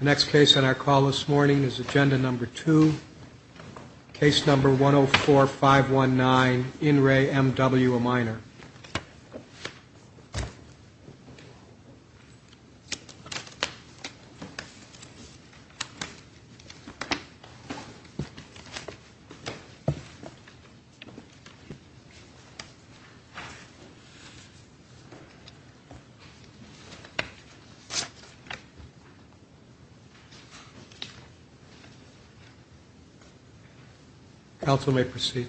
Next case on our call this morning is agenda number two. Case number one oh four five one nine in re M.W. a minor. Counsel may proceed.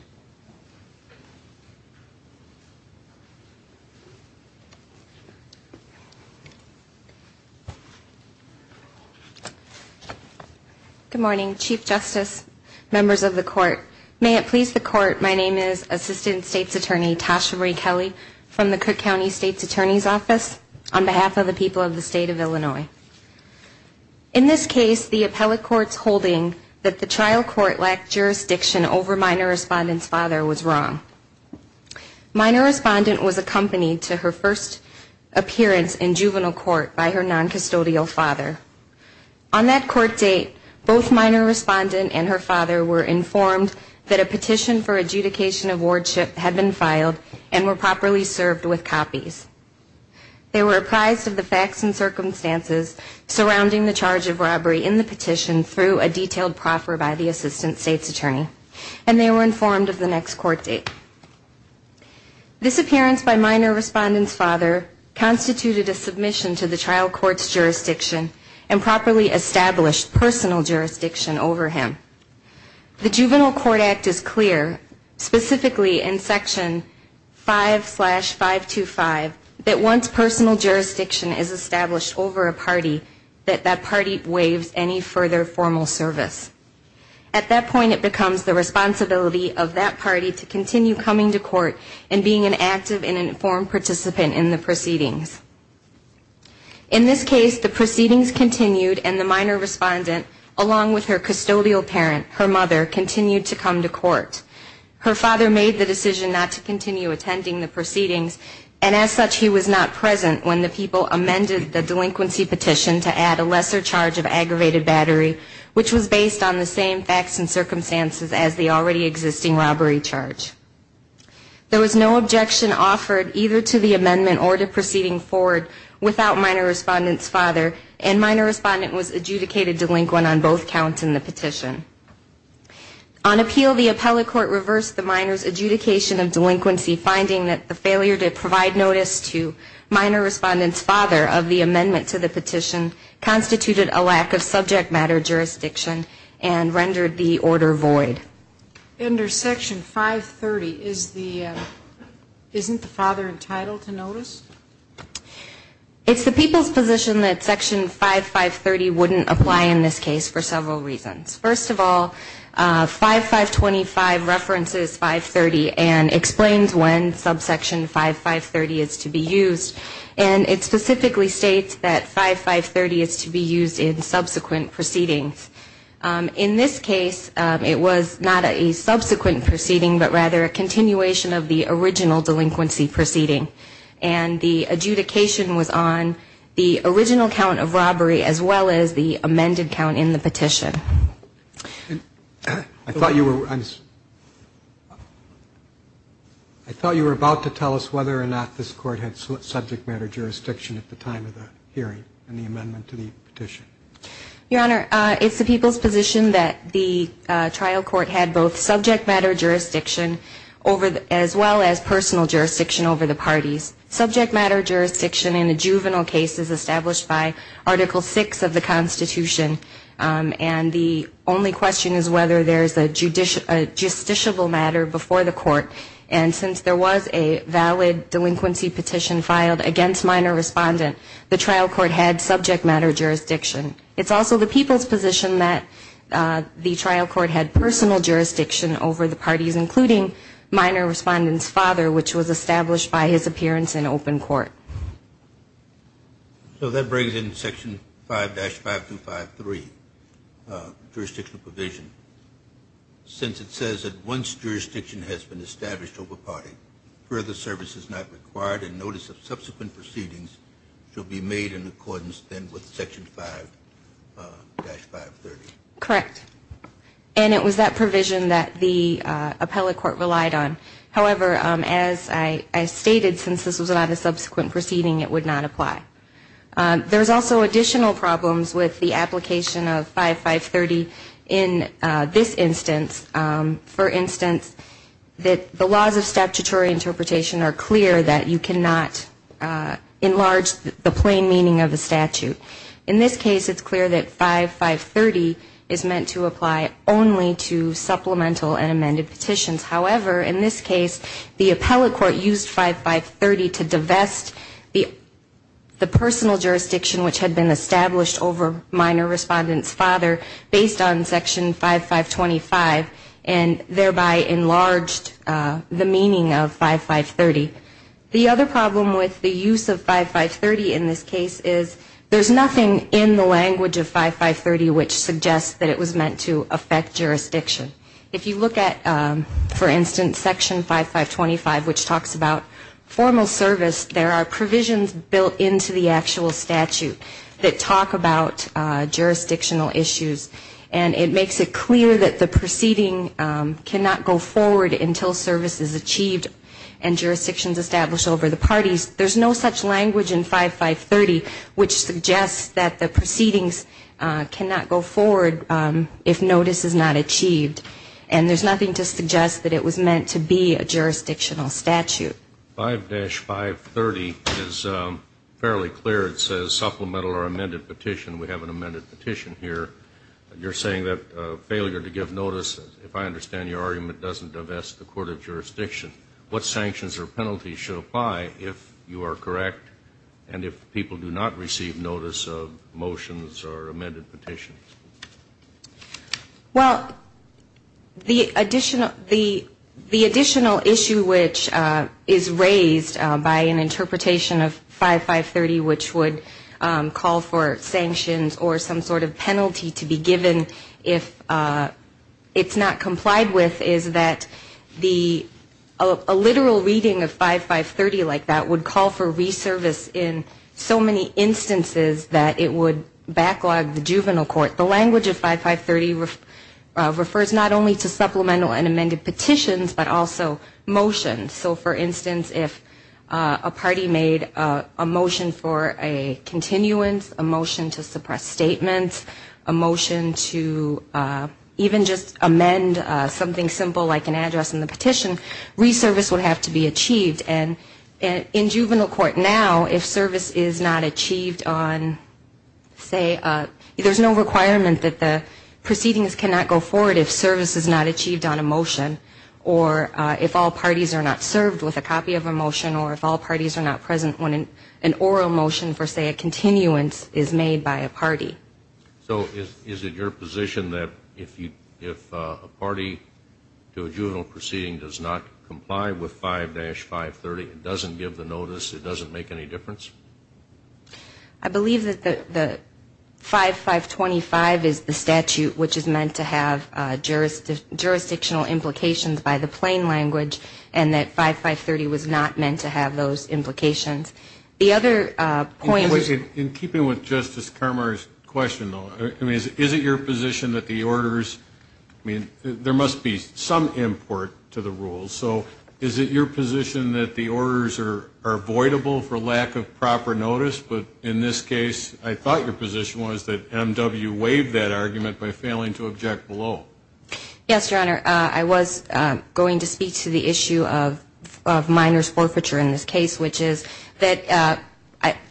Good morning, Chief Justice, members of the court. May it please the court, my name is Assistant State's Attorney Tasha Marie Kelly from the Cook County State's Attorney's Office on behalf of the people of the State of Illinois. In this case, the appellate court's holding that the trial court lacked jurisdiction over minor respondent's father was wrong. Minor respondent was accompanied to her first appearance in juvenile court by her noncustodial father. On that court date, both minor respondent and her father were informed that a petition for adjudication of wardship had been filed and were properly served with copies. They were apprised of the facts and circumstances surrounding the charge of robbery in the petition through a detailed proffer by the Assistant State's Attorney, and they were informed of the next court date. This appearance by minor respondent's father constituted a submission to the trial court's jurisdiction and properly established personal jurisdiction over him. The Juvenile Court Act is clear, specifically in Section 5-525, that once personal jurisdiction is established over a party, that that party waives any further formal service. At that point, it becomes the responsibility of that party to continue coming to court and being an active and informed participant in the proceedings. In this case, the proceedings continued and the minor respondent, along with her custodial parent, her mother, continued to come to court. Her father made the decision not to continue attending the proceedings, and as such he was not present when the people amended the delinquency petition to add a lesser charge of aggravated battery, which was based on the same facts and circumstances as the already existing robbery charge. There was no objection offered either to the amendment or to proceeding forward without minor respondent's father, and minor respondent was adjudicated delinquent on both counts in the petition. On appeal, the appellate court reversed the minor's adjudication of delinquency, finding that the failure to provide notice to minor respondent's father of the amendment to the petition constituted a lack of subject matter jurisdiction and rendered the order void. Under Section 530, isn't the father entitled to notice? It's the people's position that Section 5530 wouldn't apply in this case for several reasons. First of all, 5525 references 530 and explains when subsection 5530 is to be used, and it specifically states that 5530 is to be used in subsequent proceedings. In this case, it was not a subsequent proceeding, but rather a continuation of the original delinquency proceeding, and the adjudication was on the original count of robbery as well as the amended count in the petition. I thought you were about to tell us whether or not this Court had subject matter jurisdiction at the time of the hearing in the amendment to the petition. Your Honor, it's the people's position that the trial court had both subject matter jurisdiction as well as personal jurisdiction over the parties. Subject matter jurisdiction in a juvenile case is established by Article VI of the Constitution, and the only question is whether there is a justiciable matter before the court, and since there was a valid delinquency petition filed against minor respondent, the trial court had personal jurisdiction over the parties, including minor respondent's father, which was established by his appearance in open court. So that brings in Section 5-5253, jurisdictional provision, since it says that once jurisdiction has been established over party, further service is not required, and notice of subsequent proceedings shall be made in accordance then with Section 5-5253. Correct, and it was that provision that the appellate court relied on. However, as I stated, since this was not a subsequent proceeding, it would not apply. There's also additional problems with the application of 5-530 in this instance. For instance, the laws of statutory interpretation are clear that you cannot enlarge the plain meaning of a statute. In this case, it's clear that 5-530 is meant to apply only to supplemental and amended petitions. However, in this case, the appellate court used 5-530 to divest the personal jurisdiction which had been established over minor respondent's father based on Section 5-525, and thereby enlarged the meaning of 5-530. The other problem with the use of 5-530 in this case is there's nothing in the language of 5-530 which suggests that it was meant to affect jurisdiction. If you look at, for instance, Section 5-525, which talks about formal service, there are provisions built into the actual statute that talk about jurisdictional issues, and it makes it clear that the proceeding cannot go forward until service is achieved and jurisdiction is established over the parties. There's no such language in 5-530 which suggests that the proceedings cannot go forward if notice is not achieved. And there's nothing to suggest that it was meant to be a jurisdictional statute. 5-530 is fairly clear. It says supplemental or amended petition. We have an amended petition here. You're saying that failure to give notice, if I understand your argument, doesn't divest the court of jurisdiction. What sanctions or penalties should apply if you are correct and if people do not receive notice of motions or amended petitions? Well, the additional issue which is raised by an interpretation of 5-530, which would call for sanctions or some sort of penalty to be given if it's not complied with, is that a literal reading of 5-530 like that would call for reservice in so many instances that it would backlog the juvenile court. The language of 5-530 refers not only to supplemental and amended petitions, but also motions. So, for instance, if a party made a motion for a continuance, a motion to suppress statements, a motion to suspend statements, a motion to even just amend something simple like an address in the petition, reservice would have to be achieved. And in juvenile court now, if service is not achieved on, say, there's no requirement that the proceedings cannot go forward if service is not achieved on a motion, or if all parties are not served with a copy of a motion, or if all parties are not present when an oral motion for, say, a continuance is made by a party. So is it your position that if a party to a juvenile proceeding does not comply with 5-530, it doesn't give the notice, it doesn't make any difference? I believe that the 5525 is the statute which is meant to have jurisdictional implications by the plain language, and that 5530 was not meant to have those implications. The other point is... In keeping with Justice Carmar's question, though, is it your position that the orders, I mean, there must be some import to the rules. So is it your position that the orders are avoidable for lack of proper notice? But in this case, I thought your position was that M.W. waived that argument by failing to object below. Yes, Your Honor. I was going to speak to the issue of Minor's forfeiture in this case, which is that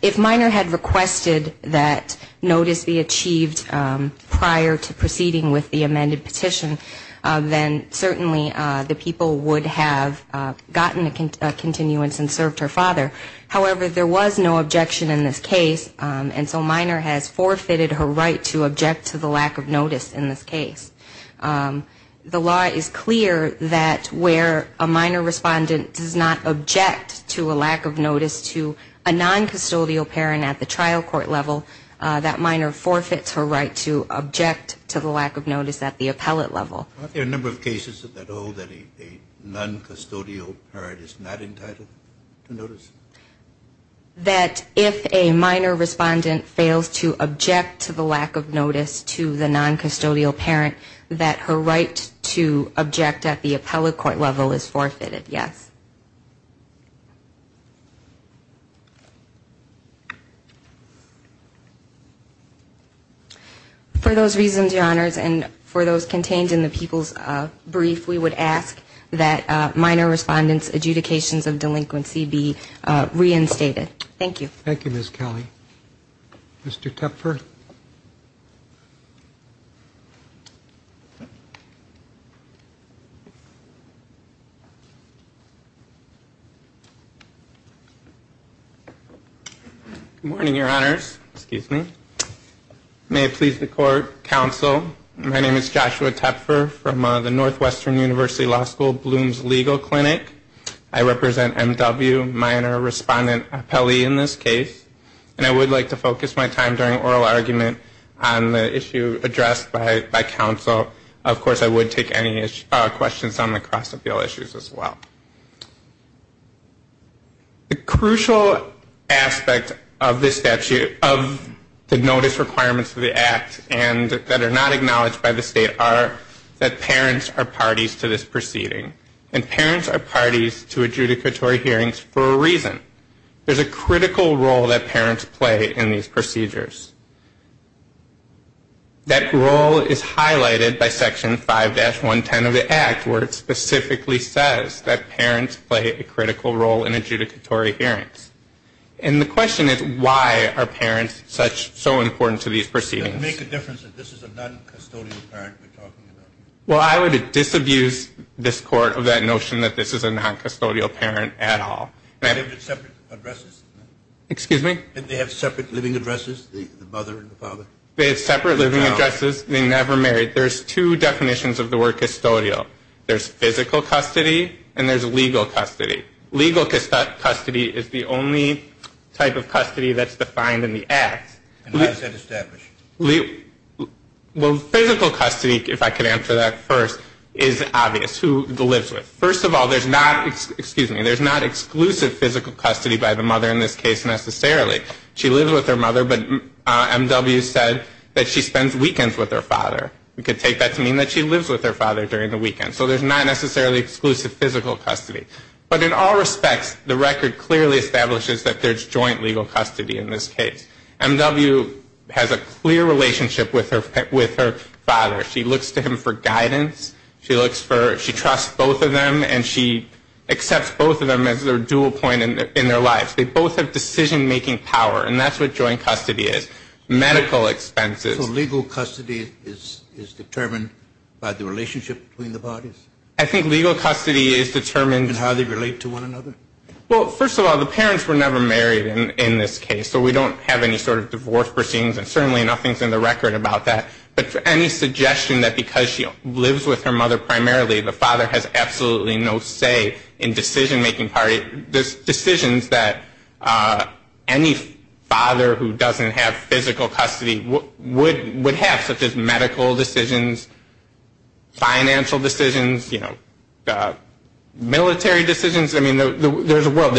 if Minor had requested that notice be achieved prior to proceeding with the amended petition, then certainly the people would have gotten a continuance and served her father. However, there was no objection in this case, and so Minor has forfeited her right to object to the lack of notice in this case. The law is clear that where a Minor respondent does not object to a lack of notice to a non-custodial parent at the trial court level, that Minor forfeits her right to object to the lack of notice at the appellate level. Aren't there a number of cases that hold that a non-custodial parent is not entitled to notice? That if a Minor respondent fails to object to the lack of notice to the non-custodial parent, that Minor is not entitled to notice. That her right to object at the appellate court level is forfeited, yes. For those reasons, Your Honors, and for those contained in the people's brief, we would ask that Minor respondent's adjudications of delinquency be reinstated. Thank you. Thank you, Ms. Kelly. Mr. Tepfer. Good morning, Your Honors. May it please the court, counsel. My name is Joshua Tepfer from the Northwestern University Law School Bloom's Legal Clinic. I represent M.W., Minor Respondent Appellee in this case. And I would like to focus my time during oral argument on the issue addressed by counsel. Of course, I would take any questions on the cross-appeal issues as well. The crucial aspect of this statute, of the notice requirements of the Act, and that are not acknowledged by the State, are that parents are not entitled to adjudicatory hearings for a reason. There's a critical role that parents play in these procedures. That role is highlighted by Section 5-110 of the Act, where it specifically says that parents play a critical role in adjudicatory hearings. And the question is, why are parents so important to these proceedings? Well, I would disabuse this Court of that notion that this is a non-custodial parent at all. Excuse me? They have separate living addresses, the mother and the father? They have separate living addresses. They never married. There's two definitions of the word custodial. There's physical custody and there's legal custody. Well, physical custody, if I could answer that first, is obvious. Who lives with? First of all, there's not, excuse me, there's not exclusive physical custody by the mother in this case necessarily. She lives with her mother, but M.W. said that she spends weekends with her father. We could take that to mean that she lives with her father during the weekend. So there's not necessarily exclusive physical custody. But in all respects, the record clearly establishes that there's joint legal custody in this case. M.W. has a clear relationship with her father. She looks to him for guidance. She trusts both of them and she accepts both of them as their dual point in their lives. They both have decision-making power, and that's what joint custody is, medical expenses. So legal custody is determined by the relationship between the bodies? I think legal custody is determined. And how they relate to one another? Well, first of all, the parents were never married in this case, so we don't have any sort of divorce proceedings, and certainly nothing's in the record about that. But any suggestion that because she lives with her mother primarily, the father has absolutely no say in decision-making power, there's decisions that any father who doesn't have physical custody would have, such as medical decisions, financial decisions, military decisions. I mean, there's a world.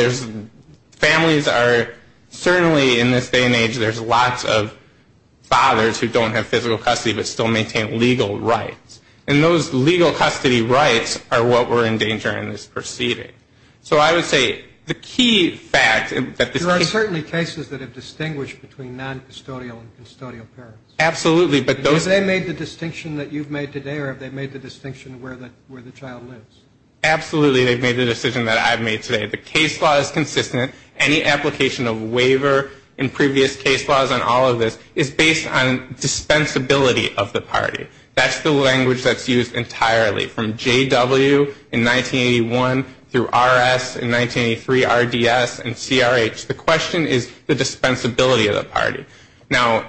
Families are certainly in this day and age, there's lots of fathers who don't have physical custody but still maintain legal rights. And those legal custody rights are what were in danger in this proceeding. So I would say the key fact that this case... There are certainly cases that have distinguished between noncustodial and custodial parents. Absolutely, but those... Have they made the distinction that you've made today or have they made the distinction where the child lives? Absolutely, they've made the decision that I've made today. The case law is consistent. Any application of waiver in previous case laws on all of this is based on dispensability of the party. That's the language that's used entirely from J.W. in 1981 through R.S. in 1983, R.D.S., and C.R.H. The question is the dispensability of the party. Now,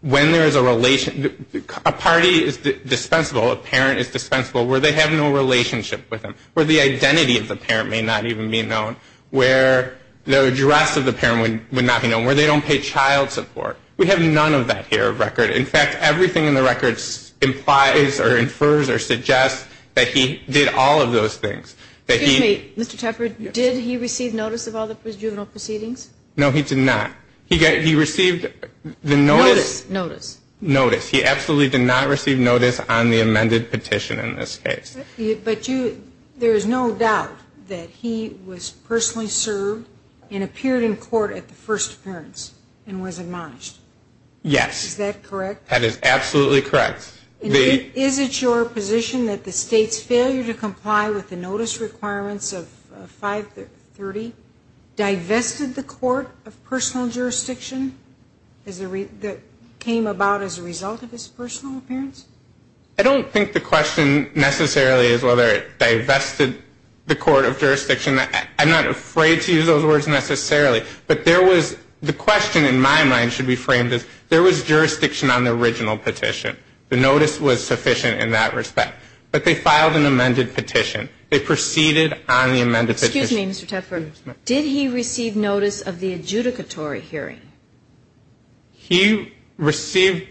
when there is a relation... A party is dispensable, a parent is dispensable, where they have no relationship with them, where the identity of the parent may not even be known, where the address of the parent would not be known, where they don't pay child support. We have none of that here of record. In fact, everything in the record implies or infers or suggests that he did all of those things. Excuse me, Mr. Tepper, did he receive notice of all the juvenile proceedings? No, he did not. Notice. Notice. He absolutely did not receive notice on the amended petition in this case. But there is no doubt that he was personally served and appeared in court at the first appearance and was admonished. Yes. Is that correct? That is absolutely correct. Is it your position that the State's failure to comply with the notice requirements of 530 divested the court of personal jurisdiction that came about as a result of his personal appearance? I don't think the question necessarily is whether it divested the court of jurisdiction. I'm not afraid to use those words necessarily. But the question in my mind should be framed as there was jurisdiction on the original petition. The notice was sufficient in that respect. But they filed an amended petition. They proceeded on the amended petition. Excuse me, Mr. Tepper, did he receive notice of the adjudicatory hearing? He received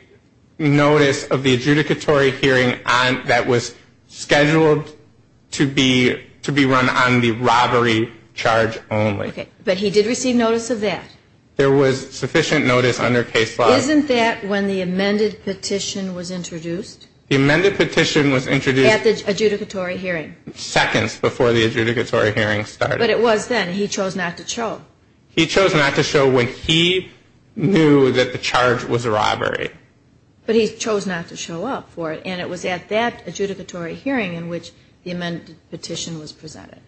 notice of the adjudicatory hearing that was scheduled to be run on the robbery charge only. But he did receive notice of that? There was sufficient notice under case law. Isn't that when the amended petition was introduced? At the adjudicatory hearing. Seconds before the adjudicatory hearing started. But it was then. He chose not to show. He chose not to show when he knew that the charge was robbery. But he chose not to show up for it, and it was at that adjudicatory hearing in which the amended petition was presented.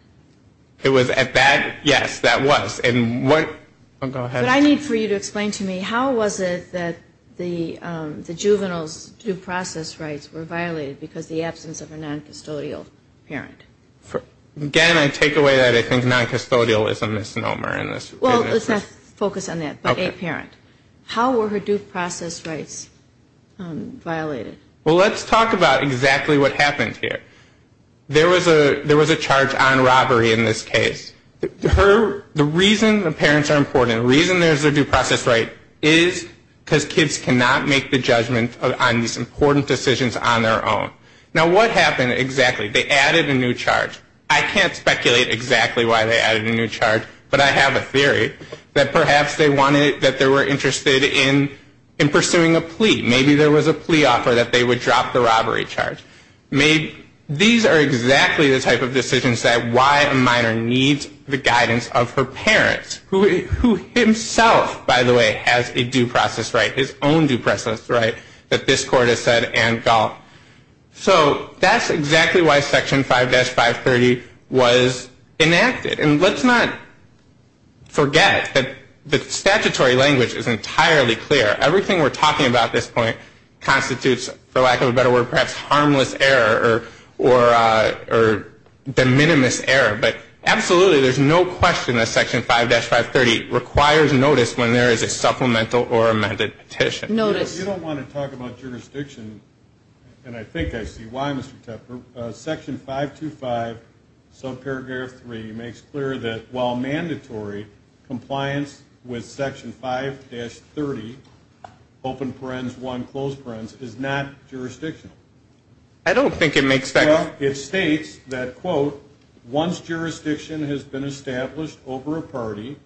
It was at that? Yes, that was. But I need for you to explain to me, how was it that the juvenile's due process rights were violated because of the absence of a noncustodial parent? Again, I take away that I think noncustodial is a misnomer. Well, let's not focus on that, but a parent. How were her due process rights violated? Well, let's talk about exactly what happened here. There was a charge on robbery in this case. The reason the parents are important, the reason there's a due process right is because kids cannot make the judgment on these important decisions on their own. Now, what happened exactly? They added a new charge. I can't speculate exactly why they added a new charge, but I have a theory that perhaps they wanted, that they were interested in pursuing a plea. Maybe there was a plea offer that they would drop the robbery charge. These are exactly the type of decisions that why a minor needs the guidance of her parents, who himself, by the way, has a due process right, his own due process right, that this Court has said and called. So that's exactly why Section 5-530 was enacted. And let's not forget that the statutory language is entirely clear. Everything we're talking about at this point constitutes, for lack of a better word, perhaps harmless error or de minimis error. But absolutely, there's no question that Section 5-530 requires notice when there is a supplemental or amended petition. Notice. You don't want to talk about jurisdiction, and I think I see why, Mr. Tepper. Section 525, subparagraph 3, makes clear that while mandatory, compliance with Section 5-30, open parens 1, closed parens, is not jurisdictional. I don't think it makes sense. Well, it states that, quote, once jurisdiction has been established over a party,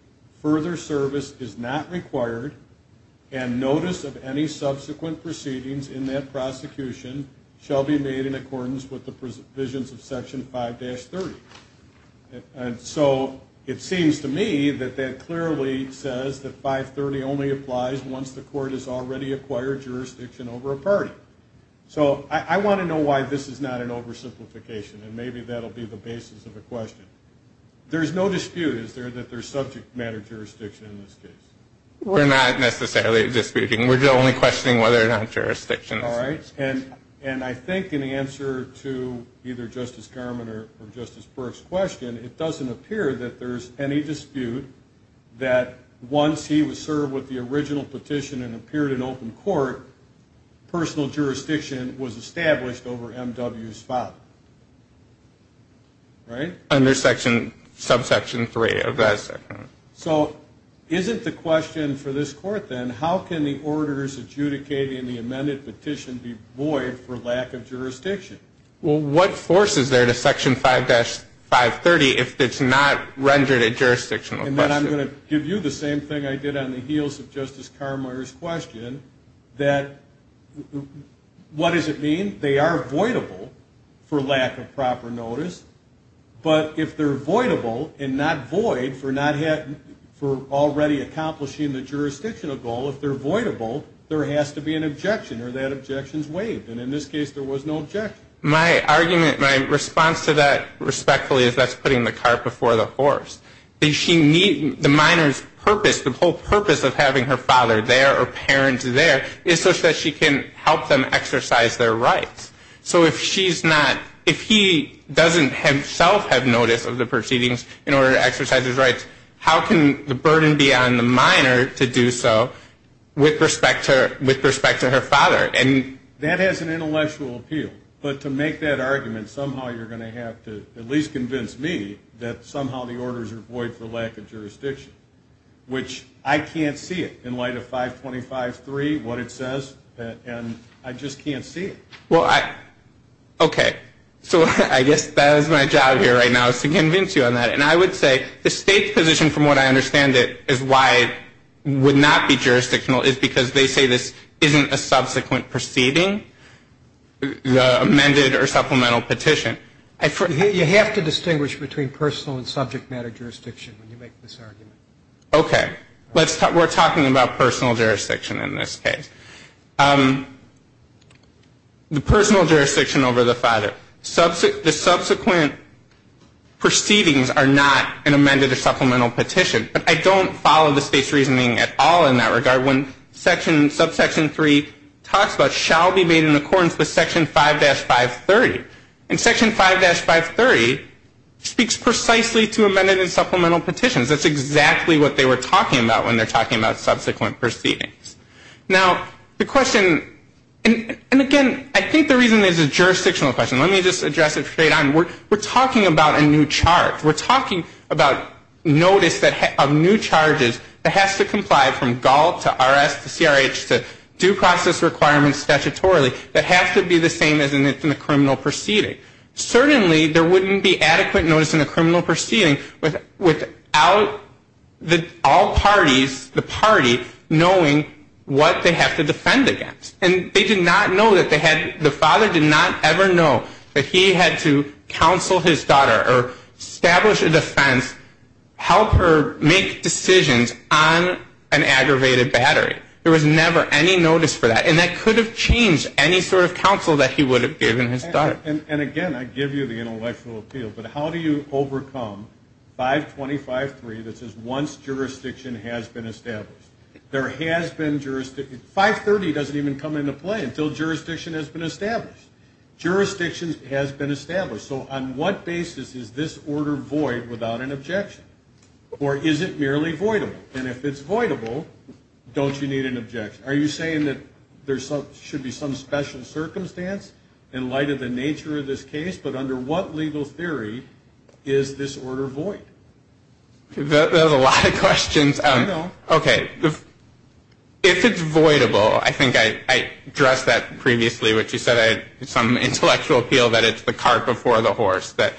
further service is not required, and notice of any subsequent proceedings in that prosecution shall be made in accordance with Section 5-530. And so it seems to me that that clearly says that 530 only applies once the Court has already acquired jurisdiction over a party. So I want to know why this is not an oversimplification, and maybe that'll be the basis of the question. There's no dispute, is there, that there's subject matter jurisdiction in this case? We're not necessarily disputing. We're only questioning whether or not jurisdiction exists. All right, and I think in answer to either Justice Garmon or Justice Burke's question, it doesn't appear that there's any dispute that once he was served with the original petition and appeared in open court, personal jurisdiction was established over M.W.'s father. Right? Under Subsection 3 of that section. So isn't the question for this Court, then, how can the orders adjudicated in the amended petition be void for lack of jurisdiction? Well, what force is there to Section 5-530 if it's not rendered a jurisdictional question? And then I'm going to give you the same thing I did on the heels of Justice Carmier's question, that what does it mean? They are voidable for lack of proper notice, but if they're voidable and not void for already accomplishing the jurisdictional goal, if they're voidable, there has to be an objection or that objection's waived. And in this case, there was no objection. My argument, my response to that respectfully is that's putting the cart before the horse. The minor's purpose, the whole purpose of having her father there or parents there is such that she can help them exercise their rights. So if she's not, if he doesn't himself have notice of the proceedings in order to exercise his rights, how can the burden be on the minor to do so with respect to her father? And that has an intellectual appeal. But to make that argument, somehow you're going to have to at least convince me that somehow the orders are void for lack of jurisdiction, which I can't see it in light of 525-3, what it says, and I just can't see it. Well, I, okay, so I guess that is my job here right now is to convince you on that. And I would say the state's position from what I understand it is why it would not be jurisdictional is because they say this isn't a subsequent proceeding, the amended or supplemental petition. You have to distinguish between personal and subject matter jurisdiction when you make this argument. Okay. We're talking about personal jurisdiction in this case. The personal jurisdiction over the father. The subsequent proceedings are not an amended or supplemental petition. But I don't follow the state's reasoning at all in that regard when section, subsection 3 talks about shall be made in accordance with section 5-530. And section 5-530 speaks precisely to amended and supplemental petitions. That's exactly what they were talking about when they're talking about subsequent proceedings. Now, the question, and again, I think the reason there's a jurisdictional question, let me just address it straight on. We're talking about a new charge. We're talking about notice of new charges that has to comply from GALT to RS to CRH to due process requirements statutorily that have to be the same as in the criminal proceeding. Certainly, there wouldn't be adequate notice in a criminal proceeding without all parties, the party, knowing what they have to defend against. And they did not know that they had, the father did not ever know that he had to get a new charge. He could not counsel his daughter or establish a defense, help her make decisions on an aggravated battery. There was never any notice for that. And that could have changed any sort of counsel that he would have given his daughter. And again, I give you the intellectual appeal, but how do you overcome 525-3 that says once jurisdiction has been established? There has been jurisdiction. 530 doesn't even come into play until jurisdiction has been established. Jurisdiction has been established. So on what basis is this order void without an objection? Or is it merely voidable? And if it's voidable, don't you need an objection? Are you saying that there should be some special circumstance in light of the nature of this case? But under what legal theory is this order void? There's a lot of questions. I know. There's some intellectual appeal that it's the cart before the horse, that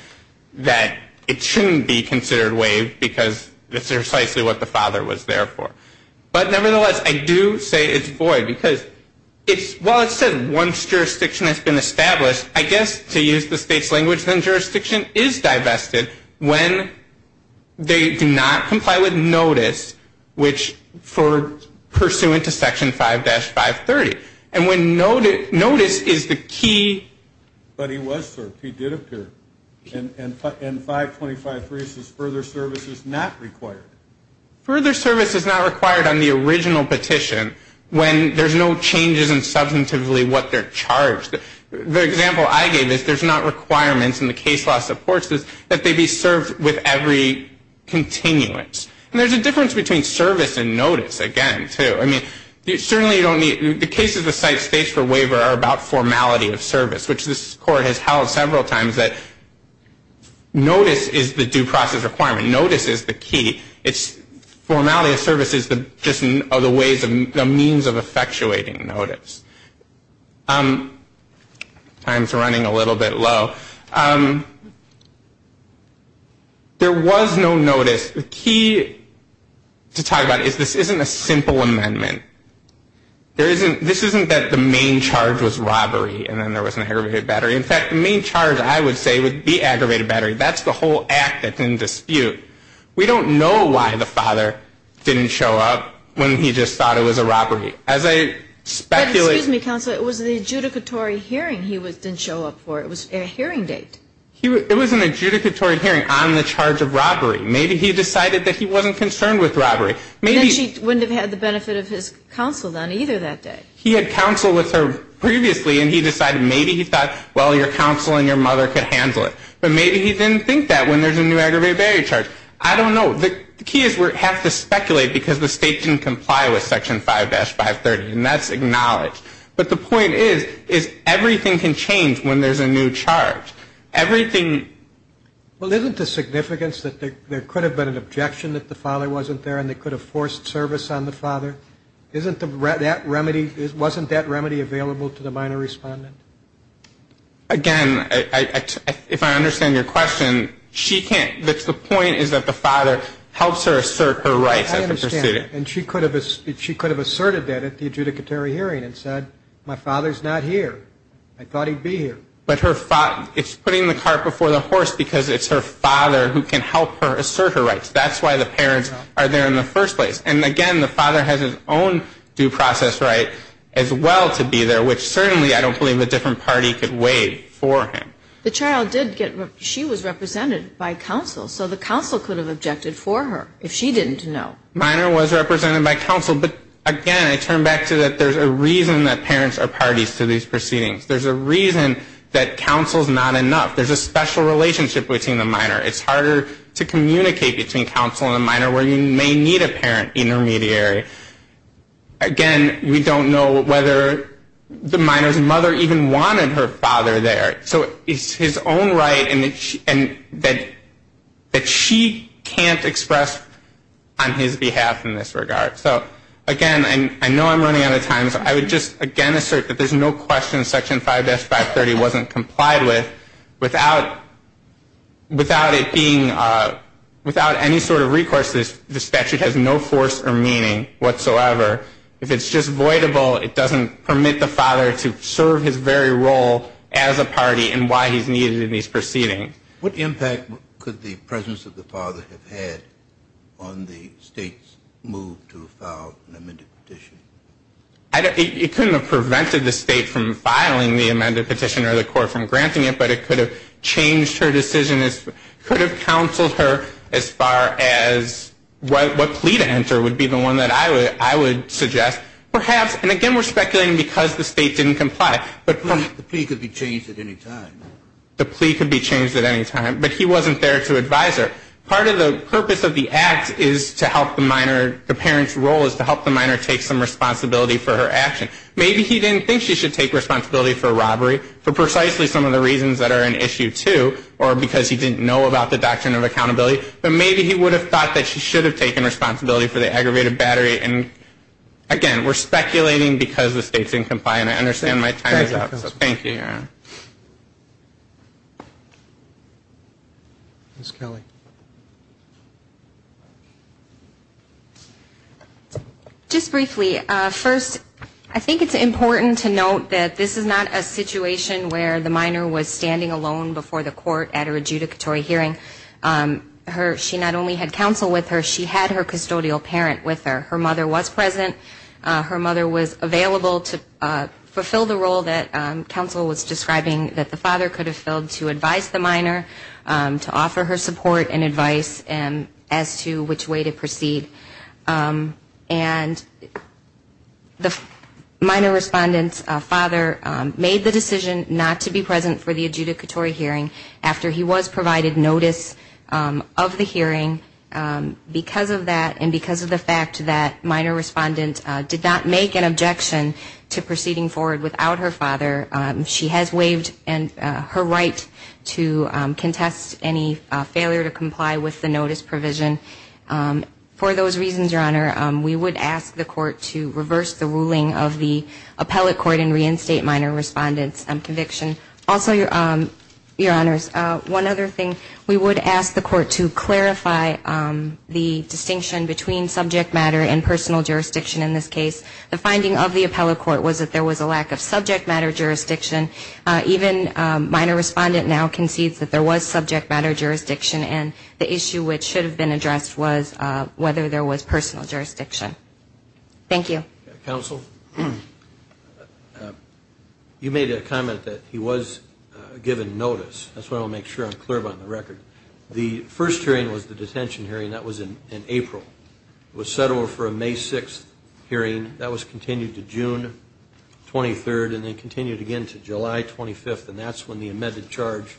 it shouldn't be considered waived, because that's precisely what the father was there for. But nevertheless, I do say it's void, because while it says once jurisdiction has been established, I guess to use the state's language, then jurisdiction is divested when they do not comply with notice, which pursuant to Section 5-530. And notice is the key. But he was served. He did appear. And 525-3 says further service is not required. Further service is not required on the original petition when there's no changes in substantively what they're charged. The example I gave is there's not requirements in the case law supports this that they be served with every continuance. And there's a difference between service and notice, again, too. The cases the site states for waiver are about formality of service, which this Court has held several times that notice is the due process requirement. Notice is the key. Formality of service is just the means of effectuating notice. Time's running a little bit low. There was no notice. The key to talk about is this isn't a simple amendment. This isn't that the main charge was robbery and then there was an aggravated battery. In fact, the main charge, I would say, would be aggravated battery. We don't know why the father didn't show up when he just thought it was a robbery. As I speculate... It was an adjudicatory hearing on the charge of robbery. Maybe he decided that he wasn't concerned with robbery. And then she wouldn't have had the benefit of his counsel on either that day. He had counsel with her previously and he decided maybe he thought, well, your counsel and your mother could handle it. But maybe he didn't think that when there's a new aggravated battery charge. I don't know. The key is we have to speculate because the State didn't comply with Section 5-530 and that's acknowledged. But the point is, is everything can change when there's a new charge. Everything... Well, isn't the significance that there could have been an objection that the father wasn't there and they could have forced service on the father? Wasn't that remedy available to the minor respondent? Again, if I understand your question, she can't... The point is that the father helps her assert her rights. And she could have asserted that at the adjudicatory hearing and said, my father's not here. I thought he'd be here. But it's putting the cart before the horse because it's her father who can help her assert her rights. That's why the parents are there in the first place. And again, the father has his own due process right as well to be there, which certainly I don't believe a different party could waive for him. The child did get... She was represented by counsel, so the counsel could have objected for her if she didn't know. Minor was represented by counsel, but again, I turn back to that there's a reason that parents are parties to these proceedings. There's a reason that counsel's not enough. There's a special relationship between the minor. It's harder to communicate between counsel and the minor where you may need a parent intermediary. Again, we don't know whether the minor's mother even wanted her father there. So it's his own right that she can't express on his behalf in this regard. So again, I know I'm running out of time, so I would just again assert that there's no question Section 5-530 wasn't complied with without it being... Without any sort of recourse, the statute has no force or meaning whatsoever. If it's just voidable, it doesn't permit the father to serve his very role as a party in why he's needed in these proceedings. What impact could the presence of the father have had on the state's move to file an amended petition? It couldn't have prevented the state from filing the amended petition or the court from granting it, but it could have changed her decision as... What plea to enter would be the one that I would suggest. And again, we're speculating because the state didn't comply. The plea could be changed at any time. But he wasn't there to advise her. Part of the purpose of the act is to help the minor, the parent's role is to help the minor take some responsibility for her action. Maybe he didn't think she should take responsibility for a robbery for precisely some of the reasons that are in Issue 2 or because he didn't know about the Doctrine of Accountability, but maybe he would have thought that she should have taken responsibility for the aggravated battery. And again, we're speculating because the state didn't comply, and I understand my time is up. Thank you. Thank you. Ms. Kelly. Just briefly, first, I think it's important to note that this is not a situation where the minor was standing alone before the court at her adjudicatory hearing. She not only had counsel with her, she had her custodial parent with her. Her mother was present. Her mother was available to fulfill the role that counsel was describing that the father could have filled to advise the minor, to offer her support and advice as to which way to proceed. And the minor respondent's father made the decision not to be present for the adjudicatory hearing after he was provided notice of the hearing because of that and because of the fact that minor respondent did not make an objection to proceeding forward without her father. She has waived her right to contest any failure to comply with the notice provision. For those reasons, Your Honor, we would ask the court to reverse the ruling of the appellate court and reinstate minor respondent's conviction. Also, Your Honors, one other thing, we would ask the court to clarify the distinction between subject matter and personal jurisdiction in this case. The finding of the appellate court was that there was a lack of subject matter jurisdiction. Even minor respondent now concedes that there was subject matter jurisdiction and the issue which should have been addressed was whether there was personal jurisdiction. Thank you. Counsel, you made a comment that he was given notice. That's what I want to make sure I'm clear about on the record. The first hearing was the detention hearing. That was in April. It was set over for a May 6th hearing. That was continued to June 23rd and then continued again to July 25th and that's when the amended charge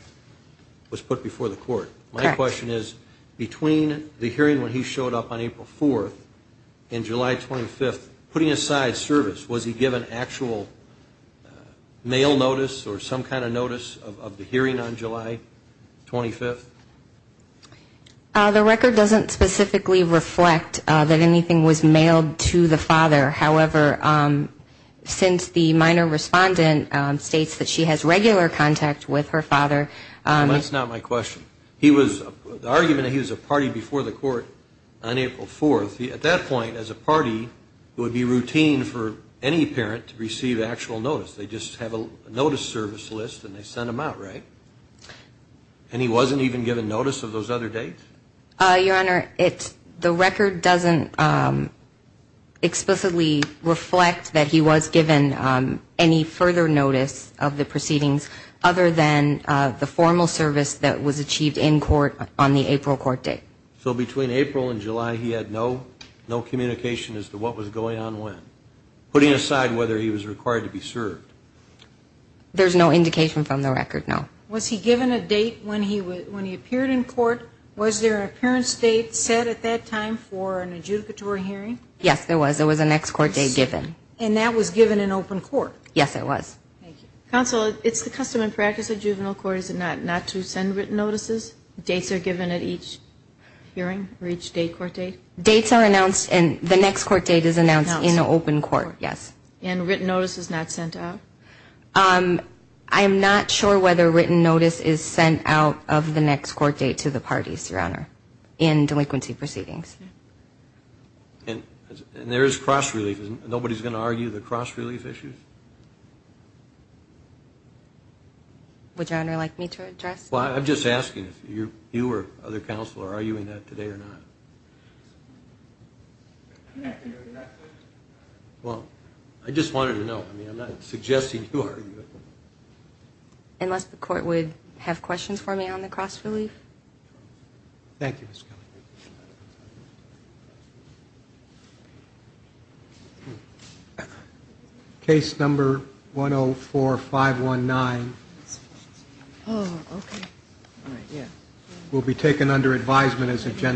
was put before the court. My question is, between the hearing when he showed up on April 4th and July 25th, putting aside service, was he given actual mail notice or some kind of notice of the hearing on July 25th? The record doesn't specifically reflect that anything was mailed to the father. However, since the minor respondent states that she has regular contact with her father. That's not my question. The argument that he was a party before the court on April 4th, at that point as a party, it would be routine for any parent to receive actual notice. They just have a notice service list and they send them out, right? And he wasn't even given notice of those other dates? Your Honor, the record doesn't explicitly reflect that he was given any further notice of the proceedings other than the formal service that was achieved in court on the April court date. So between April and July he had no communication as to what was going on when. Putting aside whether he was required to be served. There's no indication from the record, no. Was he given a date when he appeared in court? Was there an appearance date set at that time for an adjudicatory hearing? Yes, there was. There was a next court date given. And that was given in open court? Yes, it was. Counsel, it's the custom and practice of juvenile court, is it not, not to send written notices? Dates are given at each hearing for each date, court date? Dates are announced and the next court date is announced in open court, yes. And written notice is not sent out? I'm not sure whether written notice is sent out of the next court date to the parties, Your Honor, in delinquency proceedings. And there is cross-relief. Nobody's going to argue the cross-relief issues? Would Your Honor like me to address? Well, I'm just asking if you or other counsel are arguing that today or not. Well, I just wanted to know. I mean, I'm not suggesting you argue it. Unless the court would have questions for me on the cross-relief? Thank you, Ms. Kelly. Case number 104-519. Oh, okay.